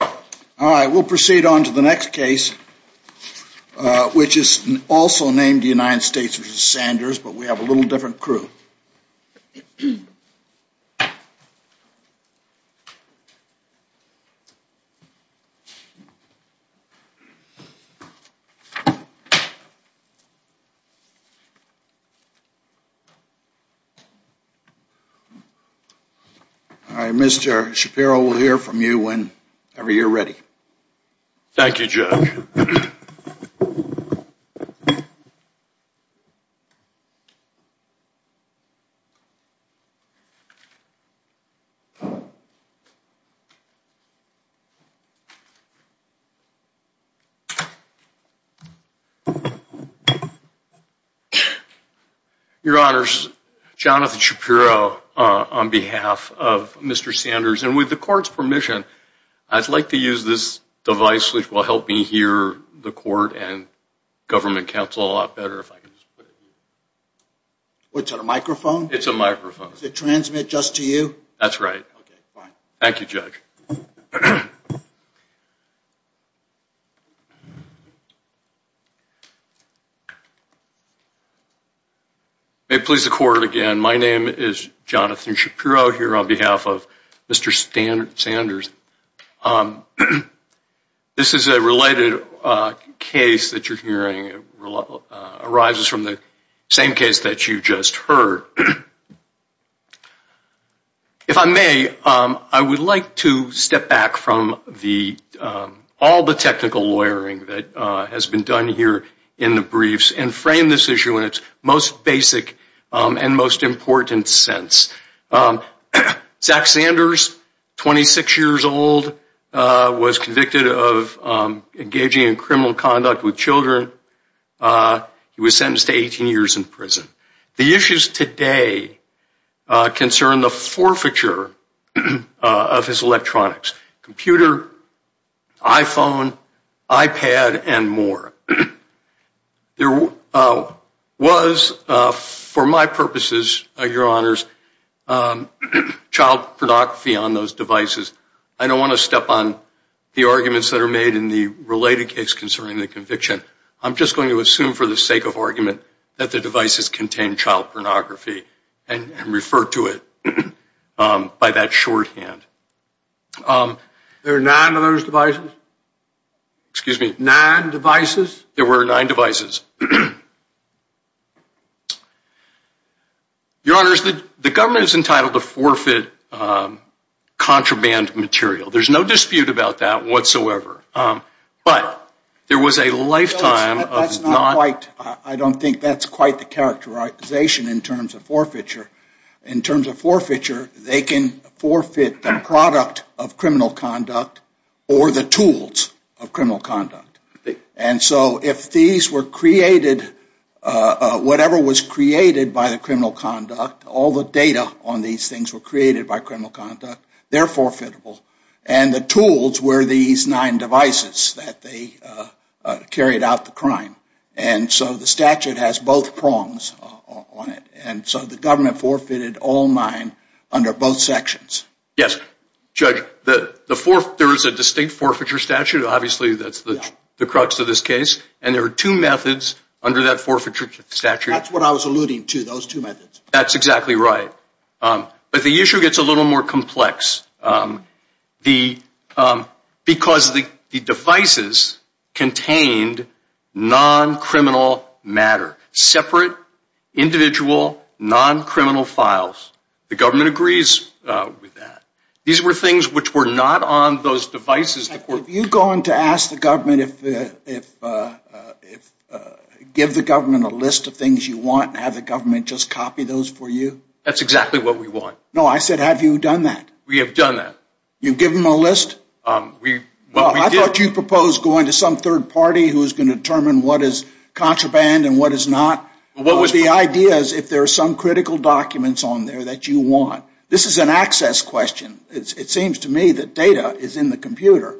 All right, we'll proceed on to the next case Which is also named the United States, which is Sanders, but we have a little different crew I Mr. Shapiro will hear from you when ever you're ready Thank You Joe Jonathan Shapiro Your honors Jonathan Shapiro on behalf of mr. Sanders and with the court's permission I'd like to use this device which will help me hear the court and government council a lot better if I can What's that a microphone it's a microphone is it transmit just to you that's right. Thank you judge May please the court again. My name is Jonathan Shapiro here on behalf of mr. Stan Sanders This is a related case that you're hearing Arises from the same case that you just heard If I may I would like to step back from the All the technical lawyering that has been done here in the briefs and frame this issue in its most basic and most important sense Zack Sanders 26 years old was convicted of engaging in criminal conduct with children He was sentenced to 18 years in prison the issues today concern the forfeiture of his electronics computer iPhone iPad and more there Was for my purposes your honors Child pornography on those devices I don't want to step on the arguments that are made in the related case concerning the conviction I'm just going to assume for the sake of argument that the devices contain child pornography and refer to it by that shorthand There are nine of those devices Excuse me nine devices there were nine devices Contraband material there's no dispute about that whatsoever But there was a lifetime Right, I don't think that's quite the characterization in terms of forfeiture in terms of forfeiture They can forfeit the product of criminal conduct or the tools of criminal conduct And so if these were created Whatever was created by the criminal conduct all the data on these things were created by criminal conduct they're forfeitable and the tools were these nine devices that they Carried out the crime and so the statute has both prongs on it And so the government forfeited all mine under both sections Yes, judge that the fourth there is a distinct forfeiture statute Obviously, that's the crux of this case and there are two methods under that forfeiture statute That's what I was alluding to those two methods. That's exactly right But the issue gets a little more complex because the devices contained non-criminal matter separate individual Non-criminal files the government agrees with that these were things which were not on those devices you've gone to ask the government if Give the government a list of things you want and have the government just copy those for you That's exactly what we want. No, I said, have you done that? We have done that you give them a list We well, I thought you proposed going to some third party who is going to determine what is contraband and what is not What was the ideas if there are some critical documents on there that you want? This is an access question It seems to me that data is in the computer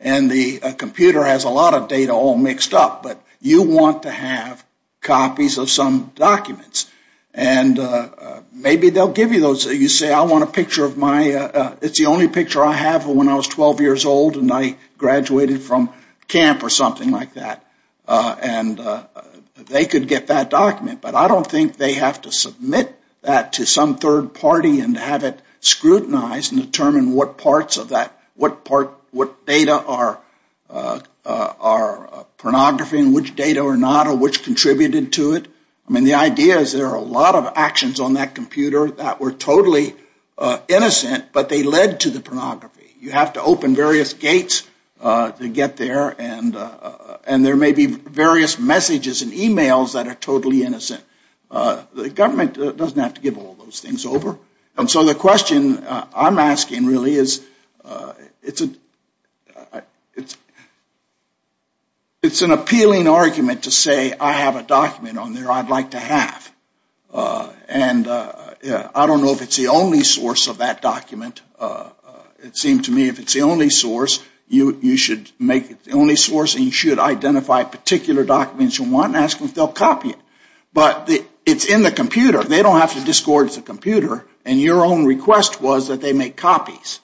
and the computer has a lot of data all mixed up but you want to have copies of some documents and Maybe they'll give you those you say I want a picture of my it's the only picture I have when I was 12 years old and I graduated from camp or something like that and They could get that document But I don't think they have to submit that to some third party and have it scrutinized and determine what parts of that what part what data are our Pornography in which data or not or which contributed to it? I mean the idea is there are a lot of actions on that computer that were totally Innocent, but they led to the pornography you have to open various gates To get there and and there may be various messages and emails that are totally innocent The government doesn't have to give all those things over. And so the question I'm asking really is it's a it's It's an appealing argument to say I have a document on there. I'd like to have And I don't know if it's the only source of that document It seemed to me if it's the only source You you should make it the only source and you should identify particular documents you want and ask them if they'll copy it But the it's in the computer. They don't have to discord. It's a computer and your own request was that they make copies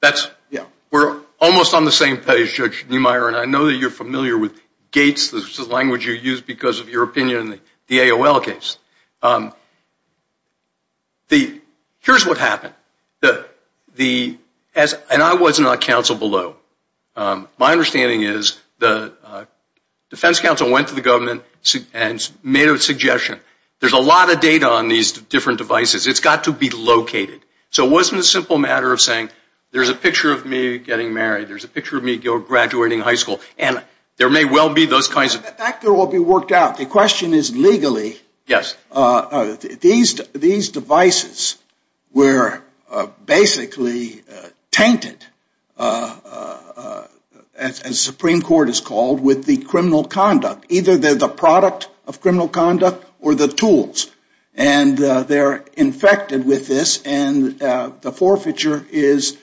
That's yeah, we're almost on the same page judge Neumeier And I know that you're familiar with gates the language you use because of your opinion in the AOL case The here's what happened the As and I was not counsel below my understanding is the Defense counsel went to the government and made a suggestion. There's a lot of data on these different devices It's got to be located. So it wasn't a simple matter of saying there's a picture of me getting married There's a picture of me go graduating high school and there may well be those kinds of factor will be worked out The question is legally. Yes these these devices were basically tainted As Supreme Court is called with the criminal conduct either they're the product of criminal conduct or the tools and they're infected with this and the forfeiture is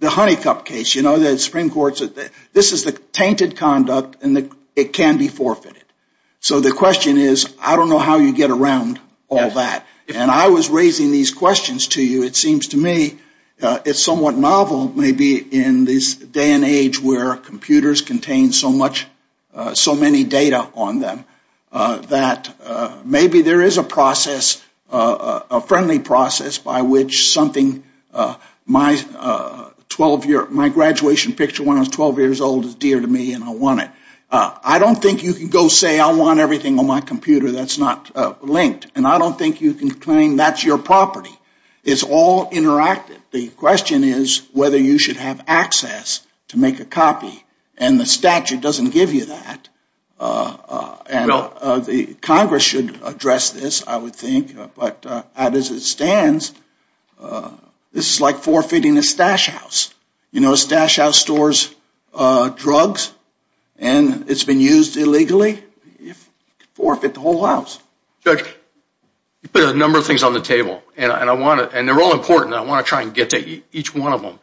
The honeycup case, you know that Supreme Court said that this is the tainted conduct and the it can be forfeited So the question is I don't know how you get around all that and I was raising these questions to you it seems to me It's somewhat novel maybe in this day and age where computers contain so much so many data on them that maybe there is a process a friendly process by which something my 12 year my graduation picture when I was 12 years old is dear to me and I want it I don't think you can go say I want everything on my computer That's not linked and I don't think you can claim. That's your property. It's all Interactive the question is whether you should have access to make a copy and the statute doesn't give you that And the Congress should address this I would think but as it stands This is like forfeiting a stash house. You know a stash house stores Drugs and It's been used illegally if forfeit the whole house judge You put a number of things on the table, and I want it and they're all important I want to try and get to each one of them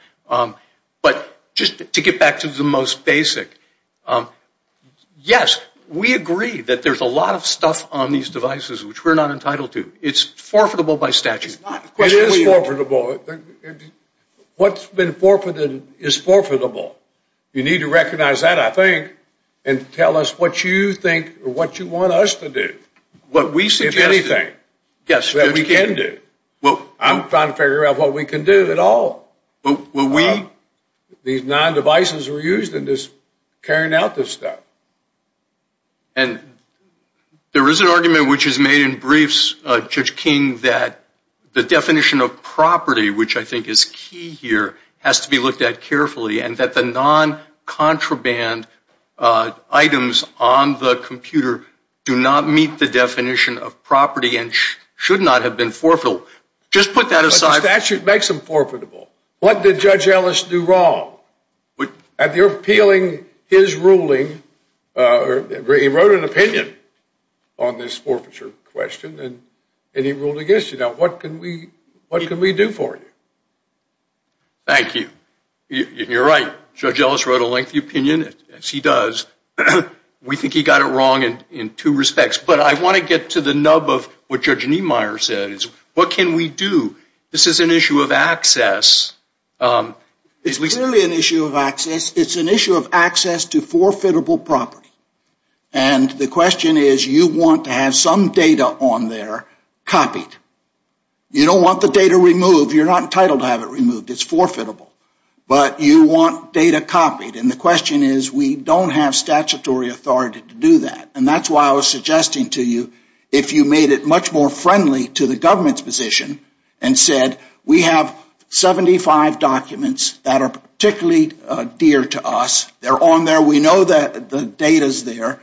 But just to get back to the most basic Yes, we agree that there's a lot of stuff on these devices, which we're not entitled to it's forfeitable by statute It is forfeitable What's been forfeited is forfeitable you need to recognize that I think and Tell us what you think or what you want us to do what we say anything Yes, that we can do well. I'm trying to figure out what we can do at all, but what we these nine devices were used in this carrying out this stuff and There is an argument, which is made in briefs judge King that the definition of property Which I think is key here has to be looked at carefully and that the non contraband Items on the computer do not meet the definition of property and should not have been forfeital Just put that aside statute makes them forfeitable. What did judge Ellis do wrong? But at the appealing his ruling Or he wrote an opinion on this forfeiture question and and he ruled against you now What can we what can we do for you? Thank you You're right judge Ellis wrote a lengthy opinion as he does We think he got it wrong and in two respects But I want to get to the nub of what judge Niemeyer said is what can we do this is an issue of access? It's really an issue of access, it's an issue of access to forfeitable property and The question is you want to have some data on there copied? You don't want the data removed. You're not entitled to have it removed It's forfeitable, but you want data copied and the question is we don't have statutory authority to do that and that's why I was suggesting to you if you made it much more friendly to the government's position and said we have 75 documents that are particularly dear to us. They're on there. We know that the data is there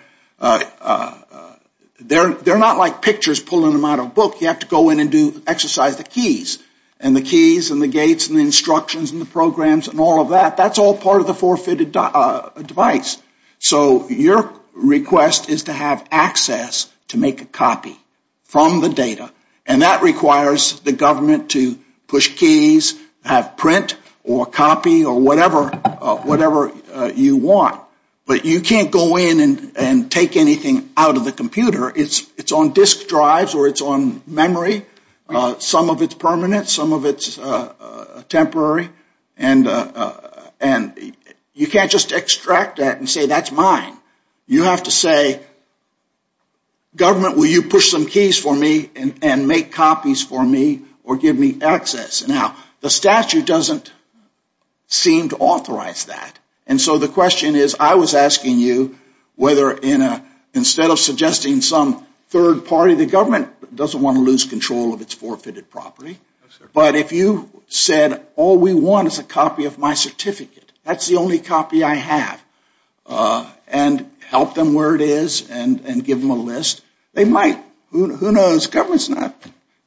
They're they're not like pictures pulling them out of book you have to go in and do exercise the keys and the Keys and the gates and the instructions and the programs and all of that. That's all part of the forfeited device so your Request is to have access to make a copy From the data and that requires the government to push keys have print or copy or whatever Whatever you want, but you can't go in and and take anything out of the computer It's it's on disk drives, or it's on memory some of its permanent some of its temporary and And you can't just extract that and say that's mine. You have to say Government will you push some keys for me and make copies for me or give me access now the statute doesn't Seem to authorize that and so the question is I was asking you Whether in a instead of suggesting some third party the government doesn't want to lose control of its forfeited property But if you said all we want is a copy of my certificate. That's the only copy I have And help them where it is and and give them a list they might who knows government's not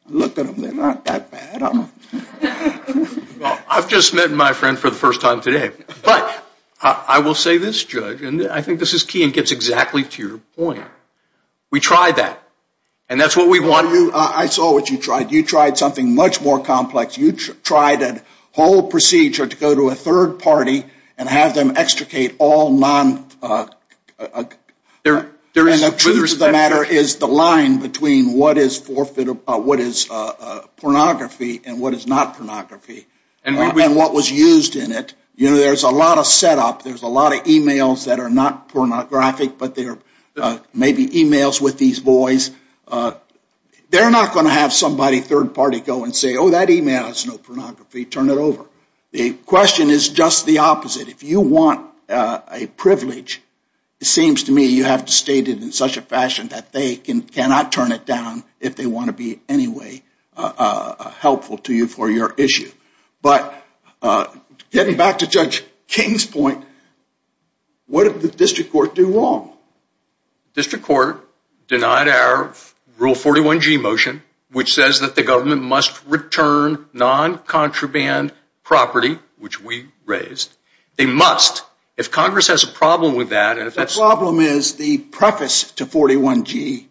I've just met my friend for the first time today But I will say this judge, and I think this is key and gets exactly to your point We tried that and that's what we want you. I saw what you tried you tried something much more complex Tried a whole procedure to go to a third party and have them extricate all non There during the truth of the matter is the line between what is forfeit about what is Pornography and what is not pornography and what was used in it. You know there's a lot of setup There's a lot of emails that are not pornographic, but there may be emails with these boys They're not going to have somebody third party go and say oh that email has no pornography turn it over the Question is just the opposite if you want a privilege It seems to me you have to state it in such a fashion that they can cannot turn it down if they want to be anyway helpful to you for your issue, but Getting back to Judge King's point What if the district court do wrong? District court denied our rule 41 G motion, which says that the government must return Non-contraband property which we raised they must if Congress has a problem with that and if that's problem is the preface to 41 G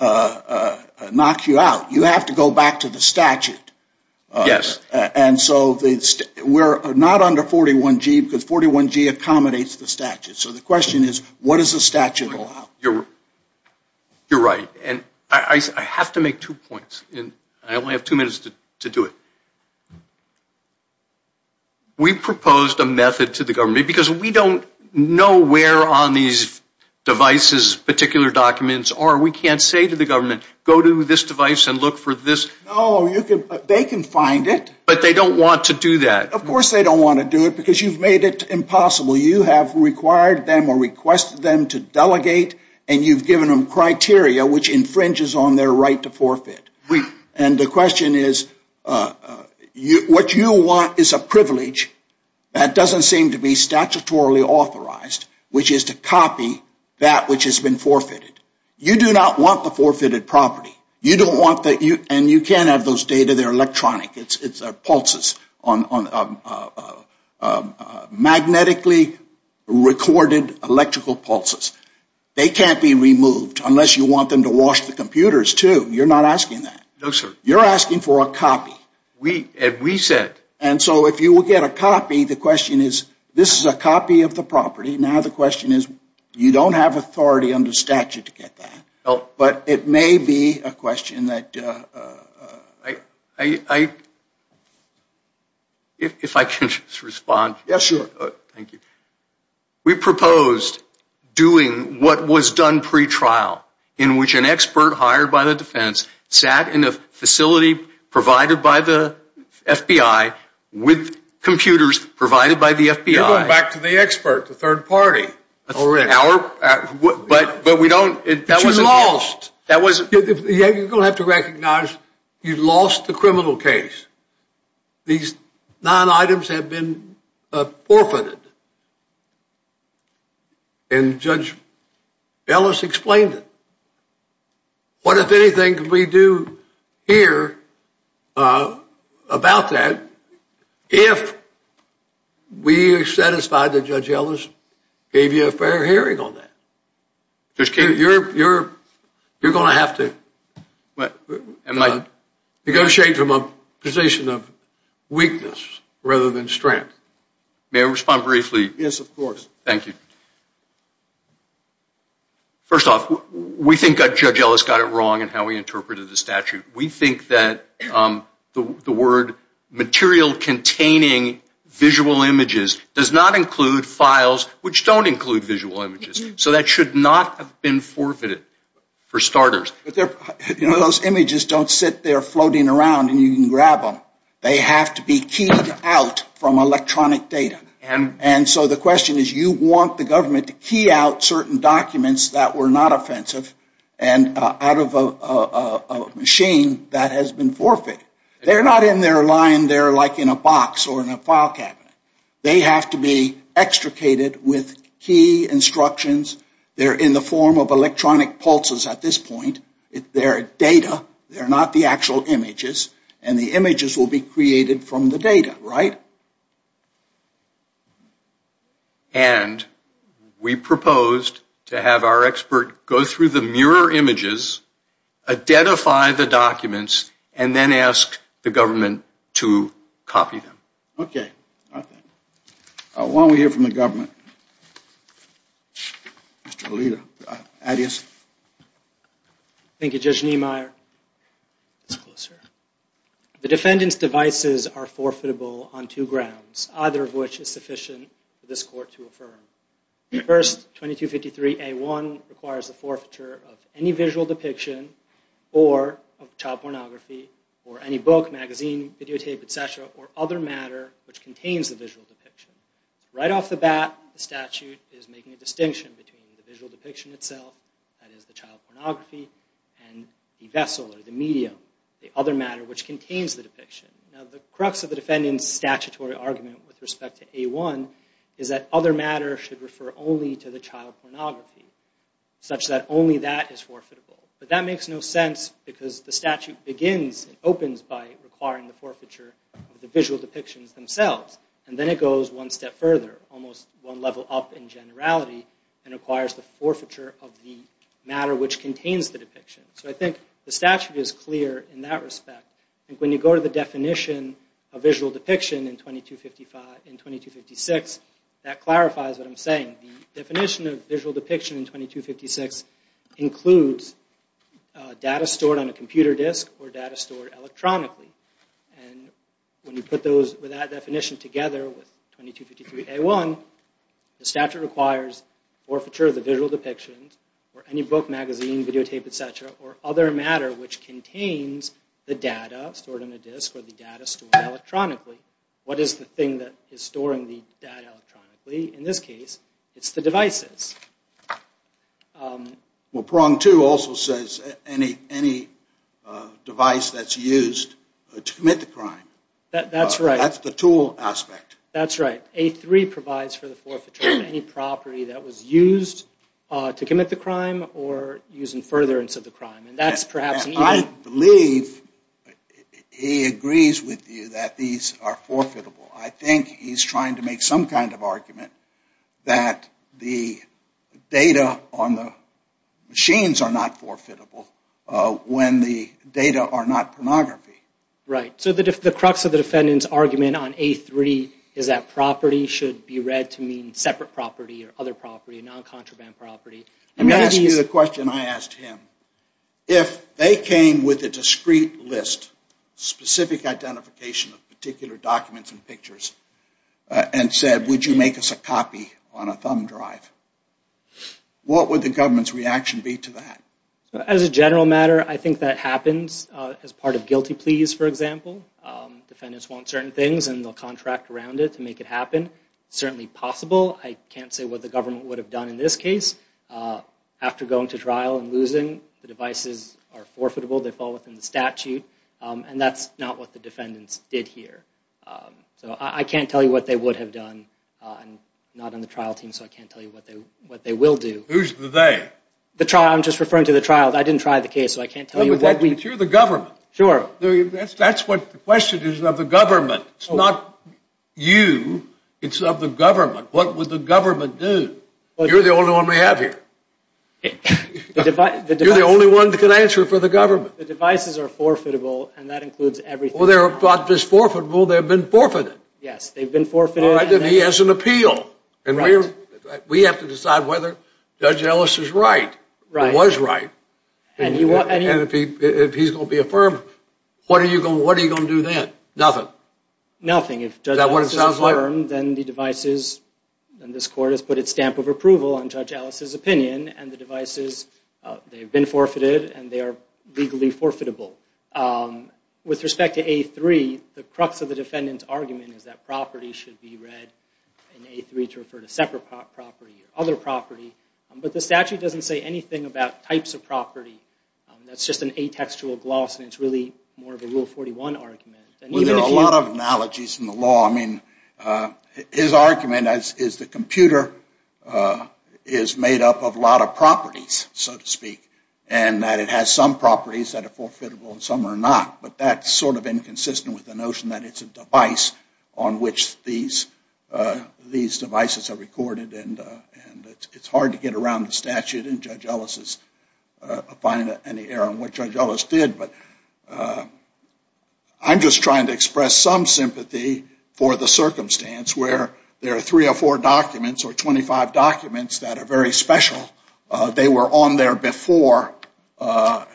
Knock you out you have to go back to the statute Yes, and so the we're not under 41 G because 41 G accommodates the statute so the question is what is the statute? you're You're right, and I have to make two points, and I only have two minutes to do it We proposed a method to the government because we don't know where on these Devices particular documents are we can't say to the government go to this device and look for this Oh, you can they can find it, but they don't want to do that of course They don't want to do it because you've made it impossible you have required them or requested them to delegate and you've given them Criteria which infringes on their right to forfeit and the question is You what you want is a privilege that doesn't seem to be statutorily authorized Which is to copy that which has been forfeited you do not want the forfeited property You don't want that you and you can't have those data. They're electronic. It's it's a pulses on a magnetically Recorded electrical pulses they can't be removed unless you want them to wash the computers, too You're not asking that no sir you're asking for a copy We have we said and so if you will get a copy the question is this is a copy of the property now the question Is you don't have authority under statute to get that well, but it may be a question that I If If I can respond yes, sir, thank you We proposed Doing what was done pretrial in which an expert hired by the defense sat in a facility provided by the FBI with Computers provided by the FBI back to the expert the third party that's already our But but we don't it that was lost that was yeah You've lost the criminal case these nine items have been forfeited and Judge Ellis explained it what if anything could we do here? About that if We are satisfied that judge Ellis gave you a fair hearing on that There's kid you're you're you're gonna have to What and I negotiate from a position of Weakness rather than strength may respond briefly yes, of course. Thank you First off we think a judge Ellis got it wrong, and how we interpreted the statute we think that the word material containing Visual images does not include files which don't include visual images, so that should not have been forfeited For starters You know those images don't sit there floating around and you can grab them They have to be keyed out from electronic data and and so the question is you want the government to key out certain documents that were not offensive and out of a Machine that has been forfeited. They're not in their line. They're like in a box or in a file cabinet They have to be extricated with key Instructions they're in the form of electronic pulses at this point if there are data They're not the actual images and the images will be created from the data, right? And We proposed to have our expert go through the mirror images Identify the documents and then ask the government to copy them, okay? While we hear from the government Mr.. Lita adios Thank You judge Niemeyer The defendants devices are forfeitable on two grounds either of which is sufficient for this court to affirm first 2253 a1 requires the forfeiture of any visual depiction or Of child pornography or any book magazine videotape etc or other matter which contains the visual depiction Right off the bat the statute is making a distinction between the visual depiction itself That is the child pornography and the vessel or the medium the other matter which contains the depiction Now the crux of the defendants statutory argument with respect to a1 is that other matter should refer only to the child pornography Such that only that is forfeitable But that makes no sense because the statute begins and opens by requiring the forfeiture of the visual depictions Themselves, and then it goes one step further almost one level up in generality and requires the forfeiture of the matter Which contains the depiction so I think the statute is clear in that respect and when you go to the definition of visual depiction in 2255 in 2256 that clarifies what I'm saying the definition of visual depiction in 2256 includes data stored on a computer disk or data stored electronically and When you put those with that definition together with 2253 a1 The statute requires Forfeiture of the visual depictions or any book magazine videotape etc or other matter which contains The data stored on a disk or the data stored electronically. What is the thing that is storing the data? Electronically in this case. It's the devices Well prong to also says any any Device that's used to commit the crime that that's right. That's the tool aspect That's right a3 provides for the forfeiture of any property that was used to commit the crime or using furtherance of the crime and that's perhaps I believe He agrees with you that these are forfeitable. I think he's trying to make some kind of argument that the data on the Machines are not forfeitable When the data are not pornography Right, so that if the crux of the defendants argument on a3 is that property should be read to mean separate property or other property? Non contraband property. I'm going to use a question. I asked him if they came with a discreet list specific identification of particular documents and pictures And said would you make us a copy on a thumb drive? What would the government's reaction be to that as a general matter? I think that happens as part of guilty pleas for example Defendants want certain things and they'll contract around it to make it happen Certainly possible. I can't say what the government would have done in this case After going to trial and losing the devices are forfeitable. They fall within the statute and that's not what the defendants did here So I can't tell you what they would have done Not on the trial team, so I can't tell you what they what they will do Who's the they the trial? I'm just referring to the trial. I didn't try the case So I can't tell you what we do the government sure that's that's what the question is of the government. It's not You it's of the government. What would the government do? Well, you're the only one we have here But if I do the only one that can answer for the government the devices are forfeitable and that includes everything Well, they're about this forfeitable. They've been forfeited. Yes, they've been forfeited I didn't he has an appeal and we're we have to decide whether judge Ellis is right, right? What is right and you want and if he if he's gonna be affirmed, what are you going? What are you gonna do that? Nothing? Nothing, if that what it sounds like then the devices And this court has put its stamp of approval on judge Alice's opinion and the devices They've been forfeited and they are legally forfeitable With respect to a3 the crux of the defendant's argument is that property should be read In a3 to refer to separate property or other property, but the statute doesn't say anything about types of property That's just an a textual gloss and it's really more of a rule 41 argument. There are a lot of analogies in the law I mean His argument as is the computer Is made up of a lot of properties so to speak and that it has some properties that are forfeitable and some are not but that's Sort of inconsistent with the notion that it's a device on which these These devices are recorded and and it's hard to get around the statute and judge Ellis's find any error in which I jealous did but I'm just trying to express some sympathy for the circumstance where there are three or four documents or 225 documents that are very special They were on there before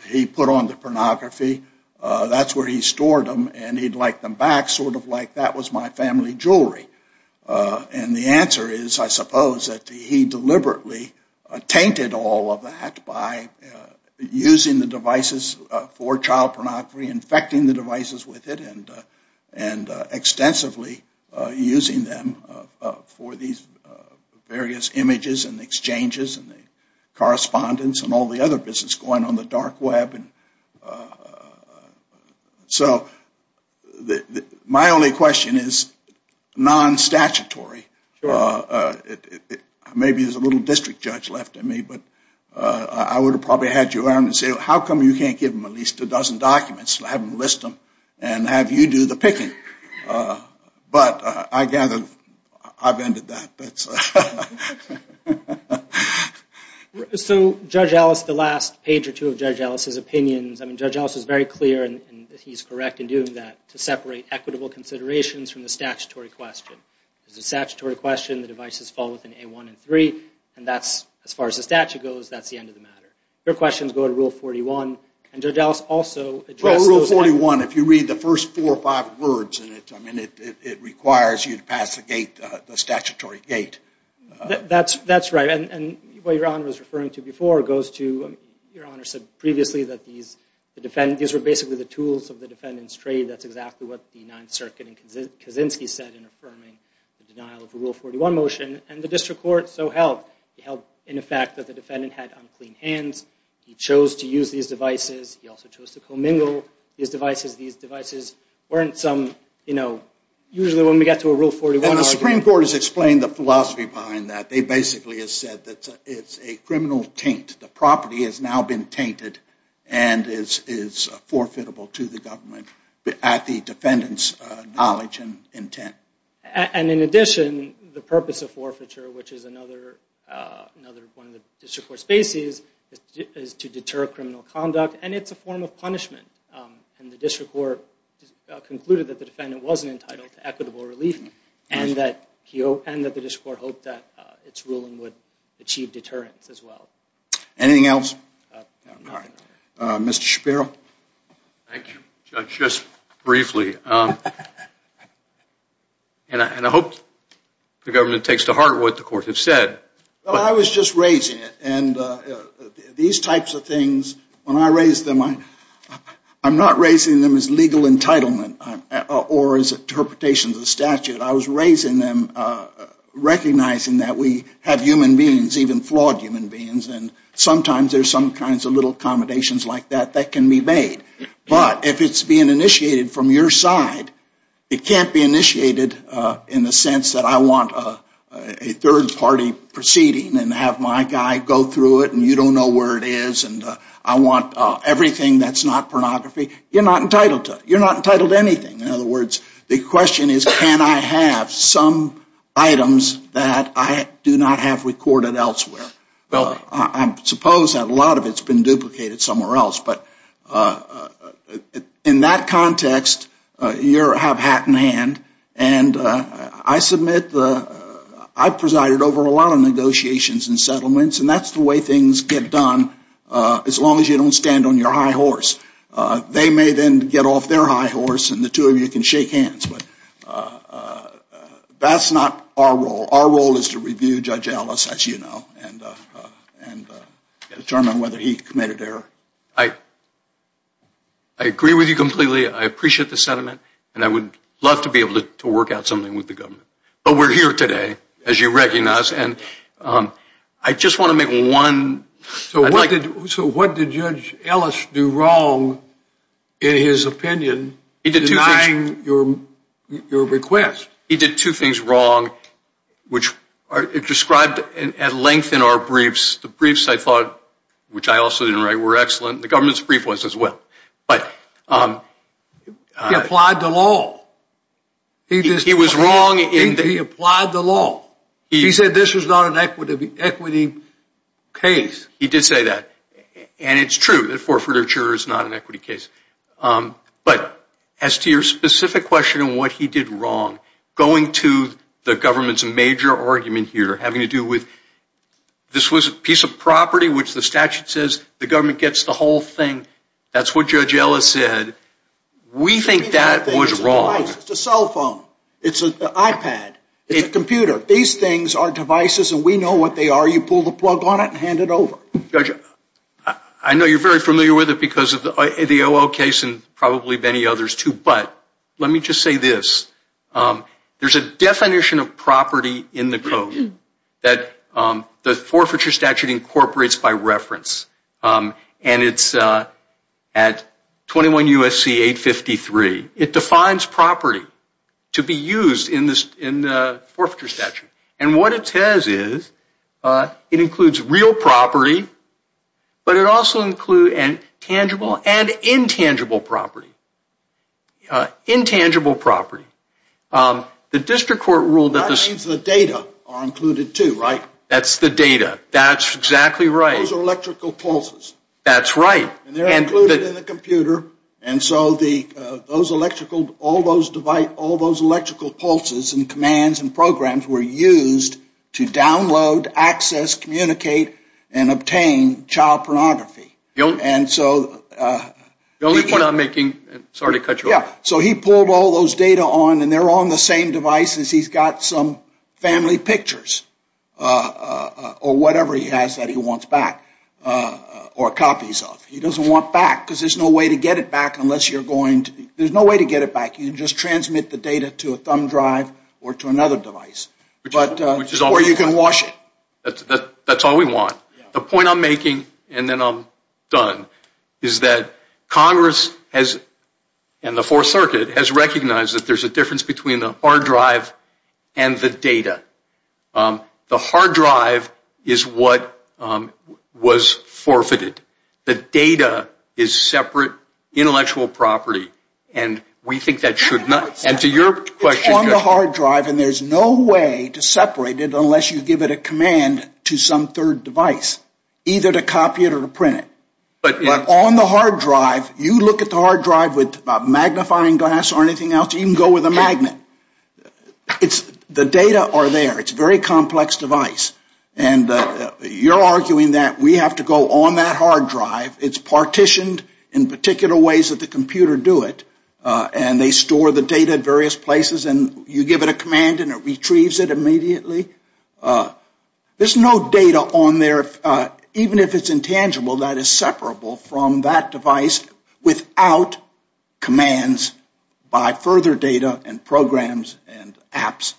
He put on the pornography That's where he stored them and he'd like them back sort of like that was my family jewelry And the answer is I suppose that he deliberately tainted all of that by using the devices for child pornography infecting the devices with it and and extensively using them for these various images and exchanges and the correspondence and all the other business going on the dark web and So that my only question is non statutory Maybe there's a little district judge left in me, but I would have probably had you around and say how come you can't give him At least a dozen documents. I haven't list them and have you do the picking But I gather I've ended that that's so Judge Alice the last page or two of judge Alice's opinions I mean judge house is very clear and he's correct in doing that to separate equitable considerations from the statutory question There's a statutory question the devices fall within a one and three and that's as far as the statute goes That's the end of the matter your questions go to rule 41 and judge Alice also 41 if you read the first four or five words, and it's I mean it requires you to pass the gate the statutory gate That's that's right And what your honor was referring to before goes to your honor said previously that these Defendant these were basically the tools of the defendants trade That's exactly what the Ninth Circuit in Kaczynski said in affirming the denial of the rule 41 motion and the district court So help help in effect that the defendant had unclean hands. He chose to use these devices He also chose to commingle these devices these devices weren't some you know Usually when we get to a rule 41 the Supreme Court has explained the philosophy behind that they basically have said that it's a criminal Taint the property has now been tainted and is is Forfeitable to the government but at the defendants knowledge and intent and in addition the purpose of forfeiture Which is another? Another one of the district court spaces is to deter criminal conduct, and it's a form of punishment and the district court Concluded that the defendant wasn't entitled to equitable relief and that he opened that the district court Hope that it's ruling would achieve deterrence as well anything else Mr. Shapiro, thank you just briefly And I hope the government takes to heart what the court have said I was just raising it and these types of things when I raised them I I'm not raising them as legal entitlement or as interpretations of the statute. I was raising them Recognizing that we have human beings even flawed human beings and sometimes there's some kinds of little Accommodations like that that can be made, but if it's being initiated from your side It can't be initiated in the sense that I want a third party Proceeding and have my guy go through it You don't know where it is, and I want everything that's not pornography. You're not entitled to you're not entitled to anything in other words The question is can I have some? Items that I do not have recorded elsewhere. Well. I'm supposed that a lot of it's been duplicated somewhere else, but in that context you're have hat in hand and I submit the Presided over a lot of negotiations and settlements, and that's the way things get done As long as you don't stand on your high horse they may then get off their high horse and the two of you can shake hands, but That's not our role our role is to review judge Ellis as you know and Determine whether he committed error I I Agree with you completely I appreciate the sentiment, and I would love to be able to work out something with the government But we're here today as you recognize and I just want to make one So what did so what did judge Ellis do wrong? In his opinion he did denying your Your request he did two things wrong Which are it described and at length in our briefs the briefs I thought Which I also didn't write were excellent the government's brief was as well, but Applied the law He was wrong in the applied the law he said this was not an equity equity Case he did say that and it's true that forfeiture is not an equity case But as to your specific question and what he did wrong going to the government's major argument here having to do with This was a piece of property which the statute says the government gets the whole thing. That's what judge Ellis said We think that was wrong. It's a cell phone. It's an iPad It's a computer these things are devices, and we know what they are you pull the plug on it and hand it over judge I know you're very familiar with it because of the OO case and probably many others too, but let me just say this There's a definition of property in the code that the forfeiture statute incorporates by reference and it's at 21 USC 853 it defines property to be used in this in the forfeiture statute and what it says is It includes real property But it also include and tangible and intangible property Intangible property The district court ruled that the state's the data are included too, right? That's the data. That's exactly right Electrical pulses, that's right and they're included in the computer and So the those electrical all those device all those electrical pulses and commands and programs were used to download access communicate and obtain child pornography don't and so The only point I'm making sorry to cut you off Yeah, so he pulled all those data on and they're on the same device as he's got some family pictures Or whatever he has that he wants back Or copies of he doesn't want back because there's no way to get it back unless you're going to there's no way to get it Back, you can just transmit the data to a thumb drive or to another device, but which is all you can wash it That's all we want the point. I'm making and then I'm done is that Congress has and the Fourth Circuit has recognized that there's a difference between the hard drive and the data The hard drive is what Was forfeited the data is separate intellectual property And we think that should not and to your question on the hard drive And there's no way to separate it unless you give it a command to some third device Either to copy it or to print it But on the hard drive you look at the hard drive with magnifying glass or anything else you can go with a magnet It's the data are there. It's very complex device and You're arguing that we have to go on that hard drive It's partitioned in particular ways that the computer do it And they store the data at various places, and you give it a command and it retrieves it immediately There's no data on there even if it's intangible that is separable from that device without Commands by further data and programs and apps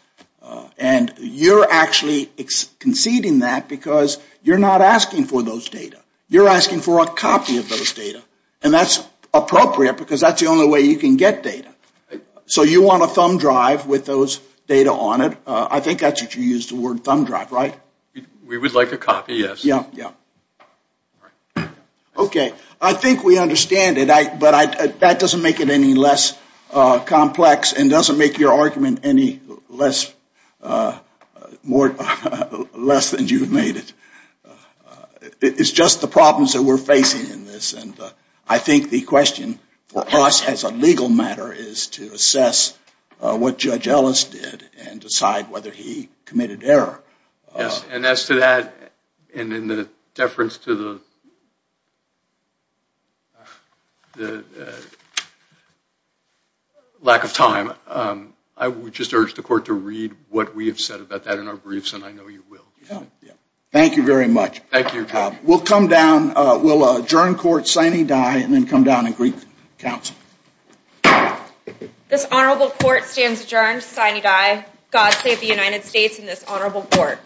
And you're actually Conceding that because you're not asking for those data You're asking for a copy of those data, and that's appropriate because that's the only way you can get data So you want a thumb drive with those data on it? I think that's what you use the word thumb drive, right? We would like a copy. Yes. Yeah, yeah Okay, I think we understand it, but I that doesn't make it any less Complex and doesn't make your argument any less More less than you've made it It's just the problems that we're facing in this and I think the question for us has a legal matter is to assess What judge Ellis did and decide whether he committed error? Yes, and as to that and in the deference to the Lack of time I would just urge the court to read what we have said about that in our briefs, and I know you will Thank you very much. Thank you. We'll come down. We'll adjourn court signing die and then come down and greet counsel This honorable court stands adjourned sign you die God save the United States in this honorable court